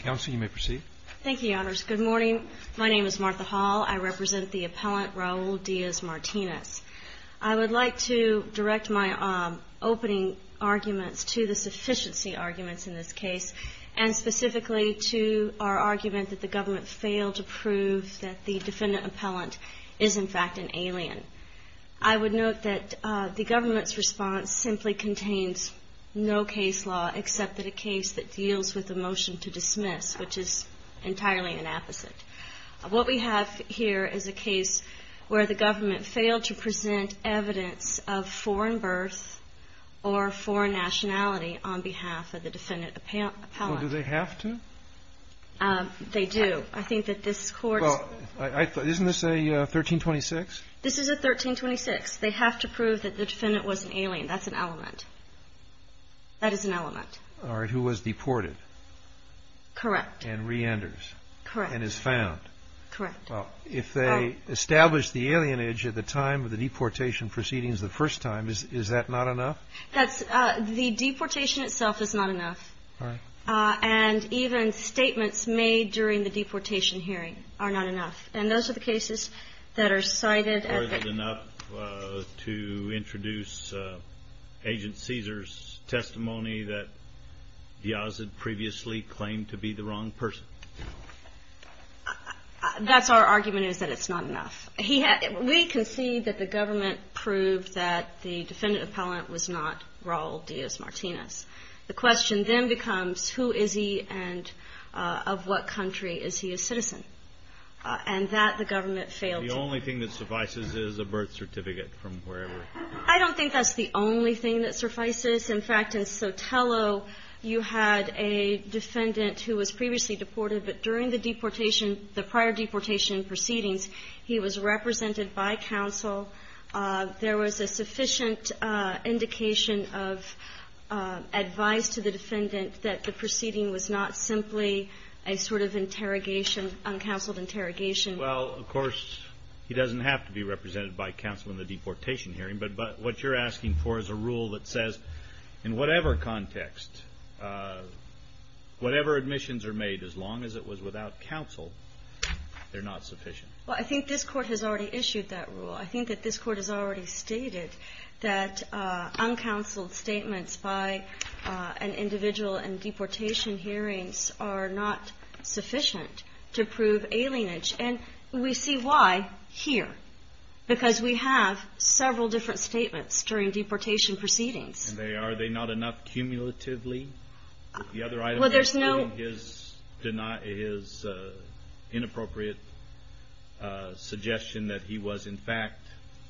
Council, you may proceed. Thank you, Your Honors. Good morning. My name is Martha Hall. I represent the appellant Raul Diaz-Martinez. I would like to direct my opening arguments to the sufficiency arguments in this case and specifically to our argument that the government failed to prove that the defendant appellant is, in fact, an alien. I would note that the government's response simply contains no case law except for a case that deals with the motion to dismiss, which is entirely an opposite. What we have here is a case where the government failed to present evidence of foreign birth or foreign nationality on behalf of the defendant appellant. Well, do they have to? They do. I think that this Court... Well, isn't this a 1326? This is a 1326. They have to prove that the defendant was an alien. That's an element. That is an element. All right. Who was deported. Correct. And reenters. Correct. And is found. Correct. Well, if they established the alienage at the time of the deportation proceedings the first time, is that not enough? That's... The deportation itself is not enough. All right. And even statements made during the deportation hearing are not enough. And those are the cases that are cited... Are they enough to introduce Agent Caesar's testimony that Diaz had previously claimed to be the wrong person? That's our argument is that it's not enough. We concede that the government proved that the defendant appellant was not Raul Diaz Martinez. The question then becomes who is he and of what country is he a citizen? And that the government failed to... The only thing that suffices is a birth certificate from wherever. I don't think that's the only thing that suffices. In fact, in Sotelo, you had a defendant who was previously deported, but during the deportation, the prior defendant that the proceeding was not simply a sort of interrogation, uncounseled interrogation. Well, of course, he doesn't have to be represented by counsel in the deportation hearing, but what you're asking for is a rule that says in whatever context, whatever admissions are made, as long as it was without counsel, they're not sufficient. Well, I think this court has already issued that rule. I think that this court has already stated that uncounseled statements by an individual in deportation hearings are not sufficient to prove alienage. And we see why here, because we have several different statements during deportation proceedings. Are they not enough cumulatively? The other item is his inappropriate suggestion that he was, in fact,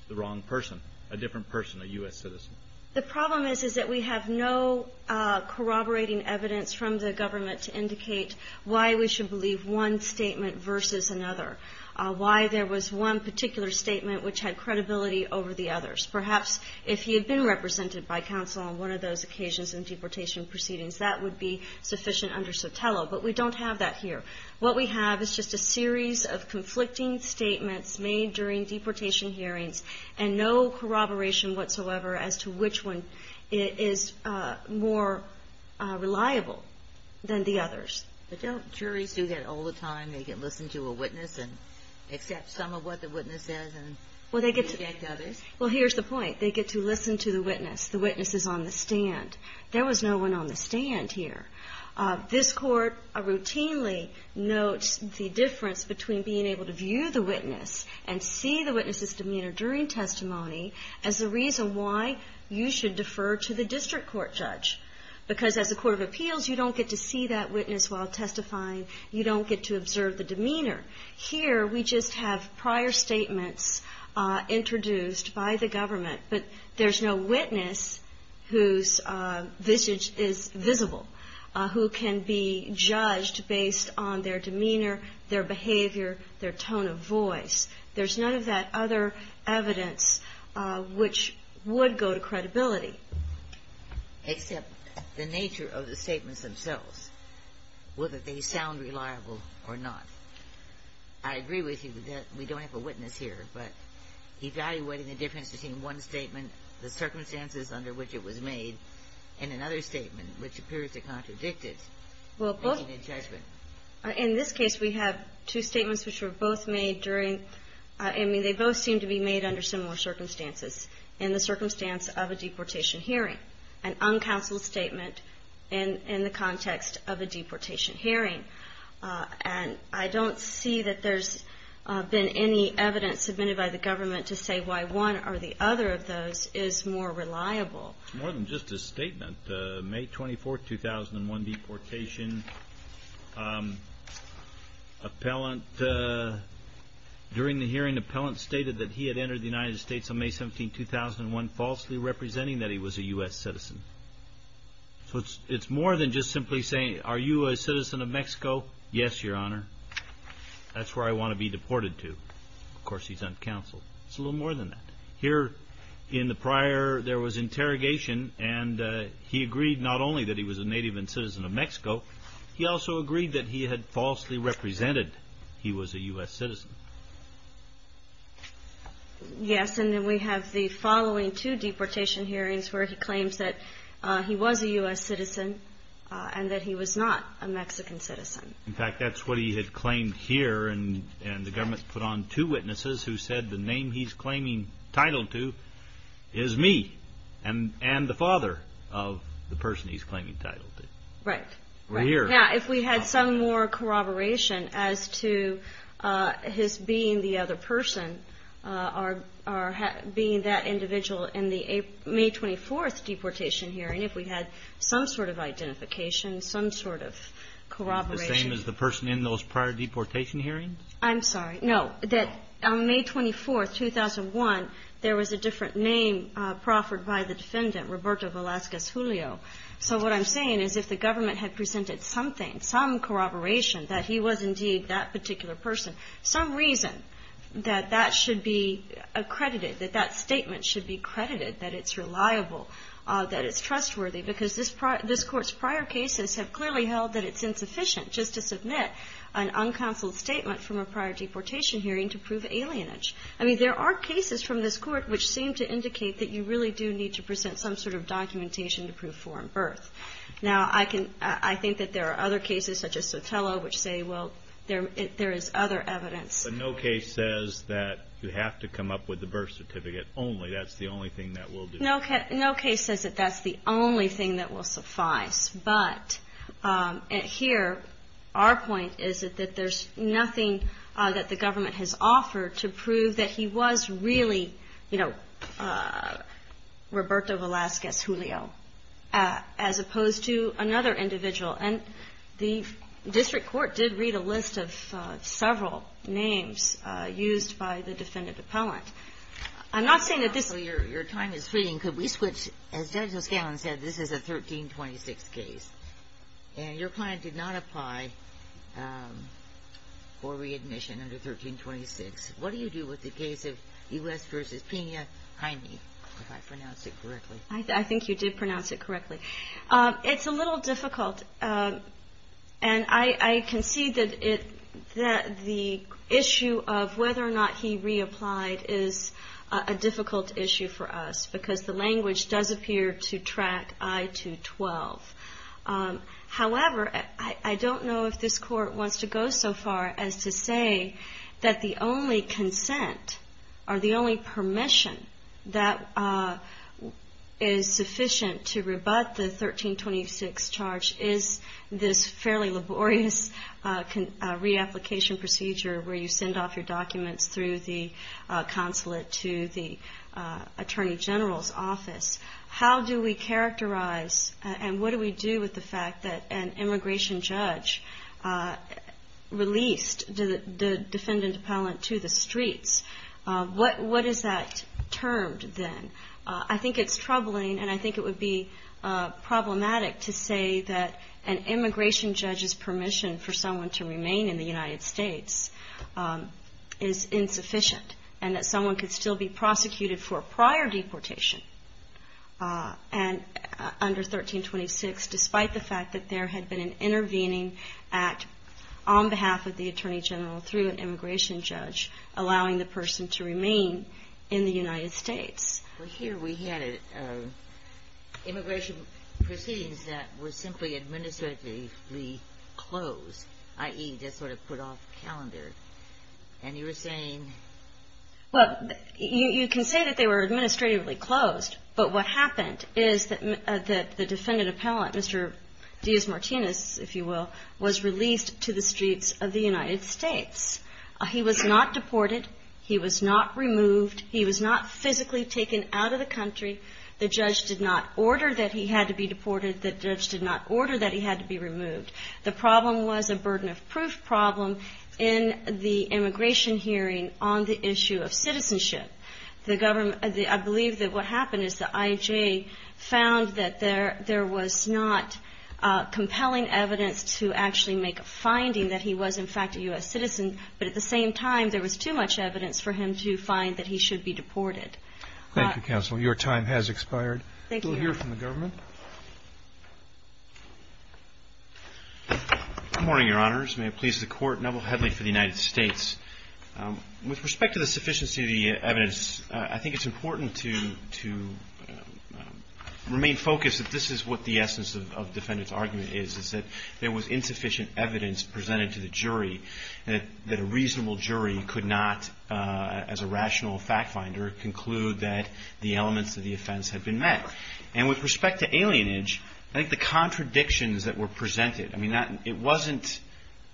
the wrong person, a different person, a U.S. citizen. The problem is that we have no corroborating evidence from the government to indicate why we should believe one statement versus another, why there was one particular statement which had credibility over the others. Perhaps if he had been represented by counsel on one of those occasions in deportation proceedings, that would be sufficient under Sotelo, but we don't have that here. What we have is just a series of conflicting statements made during deportation hearings, and no corroboration whatsoever as to which one is more reliable than the others. But don't juries do that all the time? They can listen to a witness and accept some of what the witness says and reject others? Well, here's the point. They get to listen to the witness. The witness is on the stand. There was no one on the stand here. This court routinely notes the difference between being able to view the witness and see the witness's demeanor during testimony as the reason why you should defer to the district court judge. Because as a court of appeals, you don't get to see that witness while testifying. You don't get to observe the demeanor. Here, we just have prior statements introduced by the government, but there's no witness whose visage is visible, who can be judged based on their demeanor, their behavior, their nature of the statements themselves, whether they sound reliable or not. I agree with you that we don't have a witness here, but evaluating the difference between one statement, the circumstances under which it was made, and another statement, which appears to contradict it, making a judgment. In this case, we have two statements which were both made during – I mean, they both seem to be made under similar circumstances, in the circumstance of a deportation hearing, an uncounseled statement in the context of a deportation hearing. And I don't see that there's been any evidence submitted by the government to say why one or the other of those is more reliable. More than just a statement. May 24, 2001, deportation. Appellant – during the hearing, the appellant stated that he had entered the United States on May 17, 2001, falsely representing that he was a U.S. citizen. So it's more than just simply saying, are you a citizen of Mexico? Yes, Your Honor. That's where I want to be deported to. Of course, he's uncounseled. It's a little more than that. Here, in the prior, there was interrogation, and he agreed not only that he was a native and citizen of Mexico, he also agreed that he had falsely represented he was a U.S. citizen. Yes, and then we have the following two deportation hearings where he claims that he was a U.S. citizen and that he was not a Mexican citizen. In fact, that's what he had here, and the government put on two witnesses who said the name he's claiming title to is me and the father of the person he's claiming title to. Right. Now, if we had some more corroboration as to his being the other person or being that individual in the May 24 deportation hearing, if we had some sort of identification, some sort of corroboration. The same as the person in those prior deportation hearings? I'm sorry. No. That on May 24, 2001, there was a different name proffered by the defendant, Roberto Velazquez Julio. So what I'm saying is if the government had presented something, some corroboration that he was indeed that particular person, some reason that that should be accredited, that that statement should be credited, that it's trustworthy because this court's prior cases have clearly held that it's insufficient just to submit an uncounseled statement from a prior deportation hearing to prove alienage. I mean, there are cases from this court which seem to indicate that you really do need to present some sort of documentation to prove foreign birth. Now, I think that there are other cases such as Sotelo which say, well, there is other evidence. But no case says that you have to come up with the birth certificate only. That's the only thing that will do. No case says that that's the only thing that will suffice. But here, our point is that there's nothing that the government has offered to prove that he was really, you know, Roberto Velazquez Julio as opposed to another I'm not saying that this... Your time is fleeting. Could we switch? As Judge O'Scallion said, this is a 1326 case. And your client did not apply for readmission under 1326. What do you do with the case of U.S. v. Pena-Heine, if I pronounced it correctly? I think you did pronounce it correctly. It's a little difficult. And I can see that the issue of whether or not he reapplied is a difficult issue for us because the language does appear to track I-212. However, I don't know if this court wants to go so far as to say that the only consent or the only permission that is sufficient to rebut the 1326 charge is this fairly laborious reapplication procedure where you send off your documents through the consulate to the Attorney General's office. How do we characterize and what do we do with the fact that an immigration judge released the defendant to the streets? What is that termed then? I think it's troubling and I think it would be problematic to say that an immigration judge's permission for someone to remain in the United States is insufficient and that someone could still be prosecuted for a prior deportation under 1326 despite the fact that there had been an intervening act on behalf of the Attorney General through an immigration judge allowing the person to remain in the United States. Well, here we had immigration proceedings that were simply administratively closed, i.e., just sort of put off the calendar. And you were saying? Well, you can say that they were administratively closed, but what happened is that the defendant appellate, Mr. Diaz-Martinez, if you will, was released to the streets of the United States. He was not deported. He was not removed. He was not physically taken out of the country. The judge did not order that he had to be on the issue of citizenship. I believe that what happened is the IJ found that there was not compelling evidence to actually make a finding that he was in fact a U.S. citizen, but at the same time, there was too much evidence for him to find that he should be deported. Thank you, Counsel. Your time has expired. Thank you. We'll hear from the government. Good morning, Your Honors. May it please the Court. Neville Headley for the United States. With respect to the sufficiency of the evidence, I think it's important to remain focused that this is what the essence of the defendant's argument is, is that there was insufficient evidence presented to the jury and that a reasonable jury could not, as a rational fact finder, conclude that the elements of the offense had been met. And with respect to alienage, I think the contradictions that were presented, I mean, it wasn't,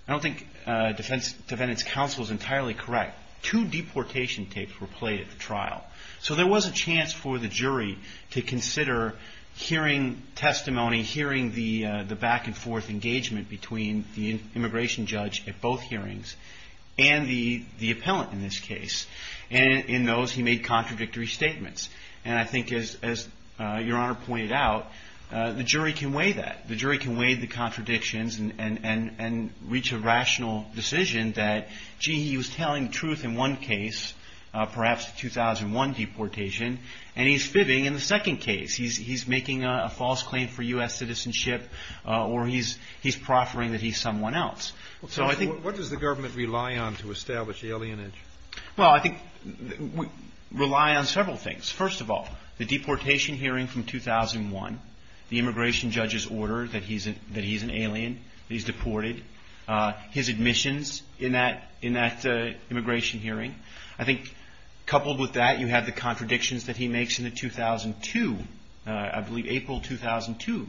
I don't think Defense Defendant's Counsel is entirely correct. Two deportation tapes were played at the trial. So there was a chance for the jury to consider hearing testimony, hearing the back and forth engagement between the immigration judge at both hearings and the appellant in this case. And in those, he made contradictory statements. And I think as Your Honor pointed out, the jury can weigh that. The jury can weigh the contradictions and reach a rational decision that, gee, he was telling the truth in one case, perhaps the 2001 deportation, and he's fibbing in the second case. He's making a false claim for U.S. citizenship or he's proffering that he's someone else. So I think... What does the government rely on to establish alienage? Well, I think we rely on several things. First of all, the deportation hearing from 2001, the immigration judge's order that he's an alien, that he's deported, his admissions in that immigration hearing. I think coupled with that, you have the contradictions that he makes in the 2002, I believe April 2002,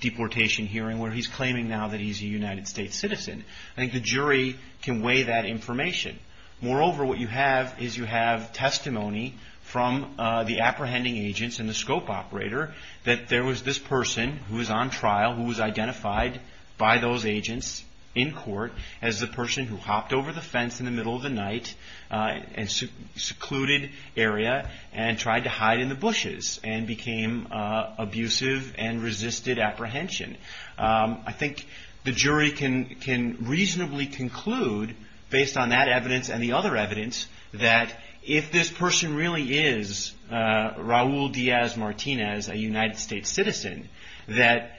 deportation hearing where he's claiming now that he's a United States citizen. I think the jury can weigh that information. Moreover, what you have is you have testimony from the apprehending agents and the scope operator that there was this person who was on trial who was identified by those agents in court as the person who hopped over the fence in the middle of the night and secluded area and tried to hide in the bushes and became abusive and resisted apprehension. I think the jury can reasonably conclude based on that evidence and the other evidence that if this person really is Raul Diaz-Martinez, a United States citizen, that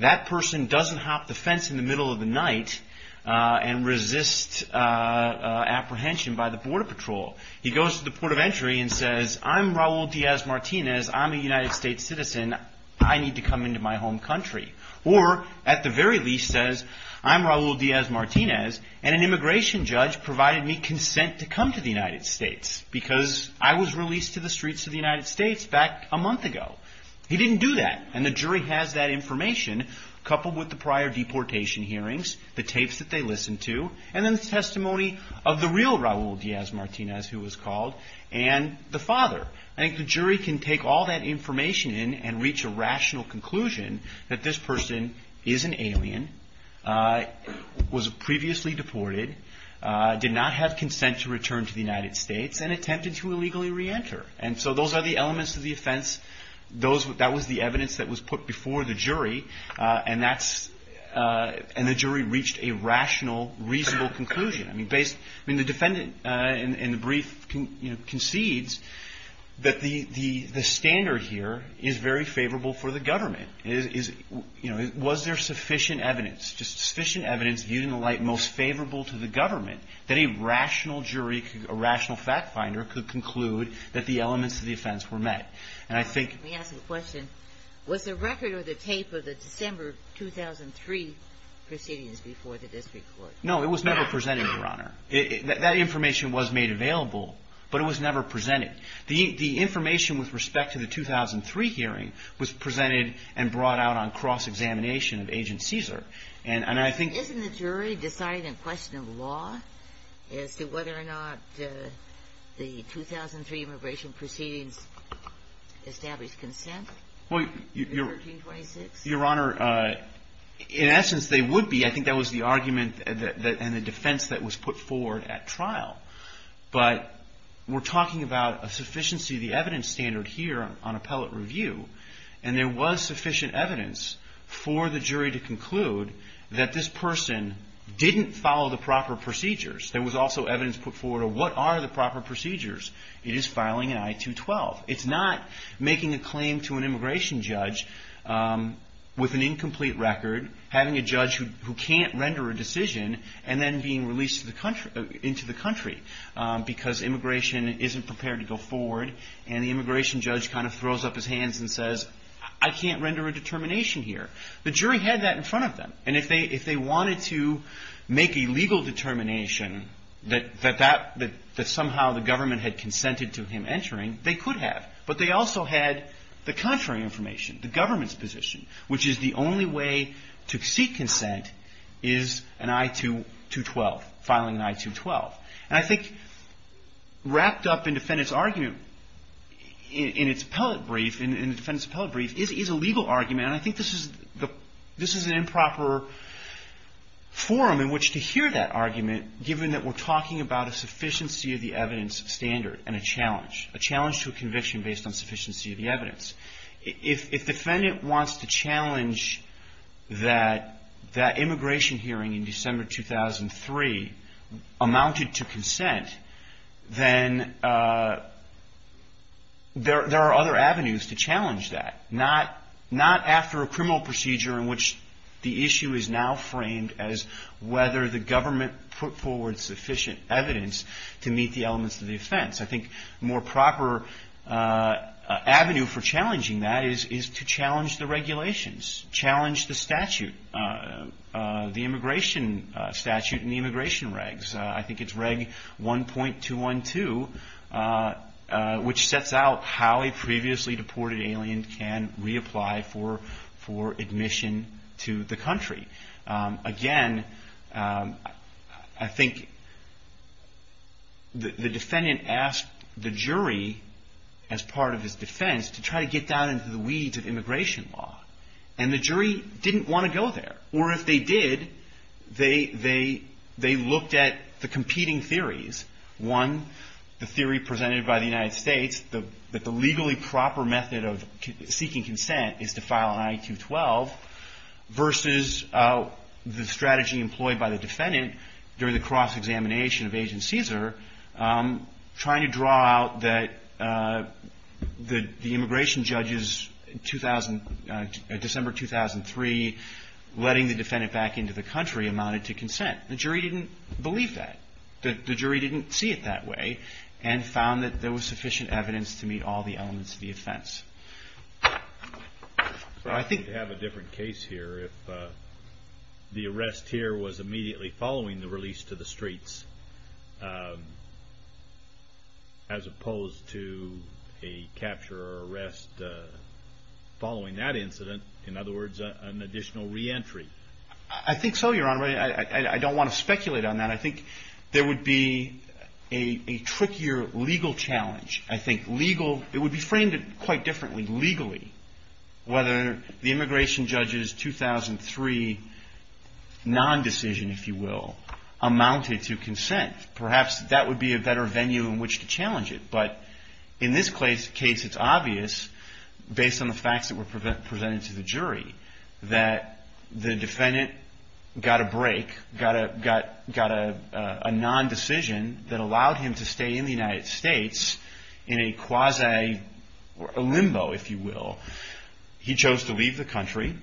that person doesn't hop the fence in the middle of the night and resist apprehension by the border patrol. He goes to the port of entry and says, I'm Raul Diaz-Martinez, I'm a United States citizen, I need to come into my home country. Or at the very least says, I'm Raul Diaz-Martinez and an immigration judge provided me consent to come to the United States because I was released to the streets of the United States back a month ago. He didn't do that and the jury has that information coupled with the prior deportation hearings, the tapes that they listened to, and then the testimony of the real Raul Diaz-Martinez, who was called, and the father. I think the jury can take all that information in and reach a rational conclusion that this person is an alien, was previously deported, did not have consent to return to the United States, and attempted to make a reasonable conclusion. The defendant in the brief concedes that the standard here is very favorable for the government. Was there sufficient evidence, just sufficient evidence viewed in the light most favorable to the government that a rational jury, a rational fact finder could conclude that the was never presented, Your Honor. That information was made available, but it was never presented. The information with respect to the 2003 hearing was presented and brought out on cross-examination of Agent Caesar. And I think Isn't the jury deciding a question of law as to whether or not the 2003 immigration proceedings established consent? Your Honor, in essence they would be. I think that was the argument and the defense that was put forward at trial. But we're talking about a sufficiency of the evidence standard here on appellate review. And there was sufficient evidence for the jury to conclude that this person didn't follow the proper procedures. There was also evidence put forward of what are the proper procedures. It is filing an I-212. It's not making a claim to an immigration judge with an incomplete record, having a judge who can't render a decision, and then being released into the country because immigration isn't prepared to go forward. And the immigration judge kind of throws up his hands and says, I can't render a determination here. The jury had that in front of them. And if they wanted to make a legal determination that somehow the government had consented to him entering, they could have. But they also had the contrary information, the government's position, which is the only way to seek consent is an I-212, filing an I-212. And I think wrapped up in defendant's argument in its appellate brief, in the defendant's appellate brief, is a legal argument. And I think this is an improper forum in which to hear that argument given that we're talking about a sufficiency of the evidence standard and a challenge, a standard based on sufficiency of the evidence. If defendant wants to challenge that immigration hearing in December 2003 amounted to consent, then there are other avenues to challenge that. Not after a criminal procedure in which the issue is now framed as whether the government put forward sufficient evidence to meet the elements of the offense. I think more proper avenue for challenging that is to challenge the regulations, challenge the statute, the immigration statute and the immigration regs. I think it's Reg 1.212, which sets out how a previously deported alien can reapply for admission to the country. Again, I think the defendant asked the jury as part of his defense to try to get down into the weeds of immigration law. And the jury didn't want to go there. Or if they did, they looked at the competing theories. One, the theory presented by the United States that the legally proper method of seeking consent is to file an I-212 versus the strategy employed by the defendant during the cross-examination of Agent Caesar trying to draw out that the immigration judges in December 2003 letting the defendant back into the country amounted to consent. The jury didn't believe that. The jury didn't see it that way and found that there was sufficient evidence to meet all the elements of the offense. So I think we'd have a different case here if the arrest here was immediately following the release to the streets as opposed to a capture or arrest following that incident. In other words, an additional re-entry. I think so, Your Honor. I don't want to speculate on that. I think there would be a trickier legal challenge. It would be framed quite differently legally whether the immigration judges 2003 non-decision, if you will, amounted to consent. Perhaps that would be a better venue in which to challenge it. But in this case, it's obvious based on the facts that were presented to the jury that the defendant got a break, got a non-decision that allowed him to stay in the United States in a quasi limbo, if you will. He chose to leave the country,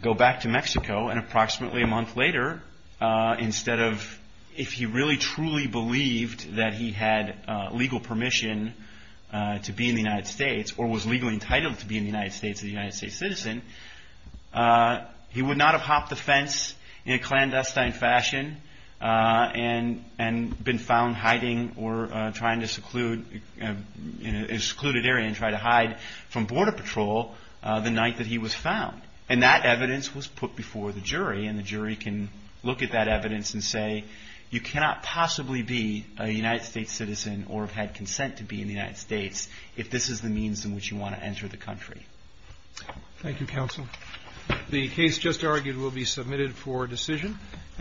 go back to Mexico, and approximately a month later, instead of if he really truly believed that he had legal permission to be in the United States or was legally entitled to be in the United States as a United States citizen, he would not have hopped the fence in a clandestine fashion and been found hiding or trying to seclude in an evidence and say, you cannot possibly be a United States citizen or have had consent to be in the United States if this is the means in which you want to enter the country. Thank you, Counsel. The case just argued will be submitted for decision.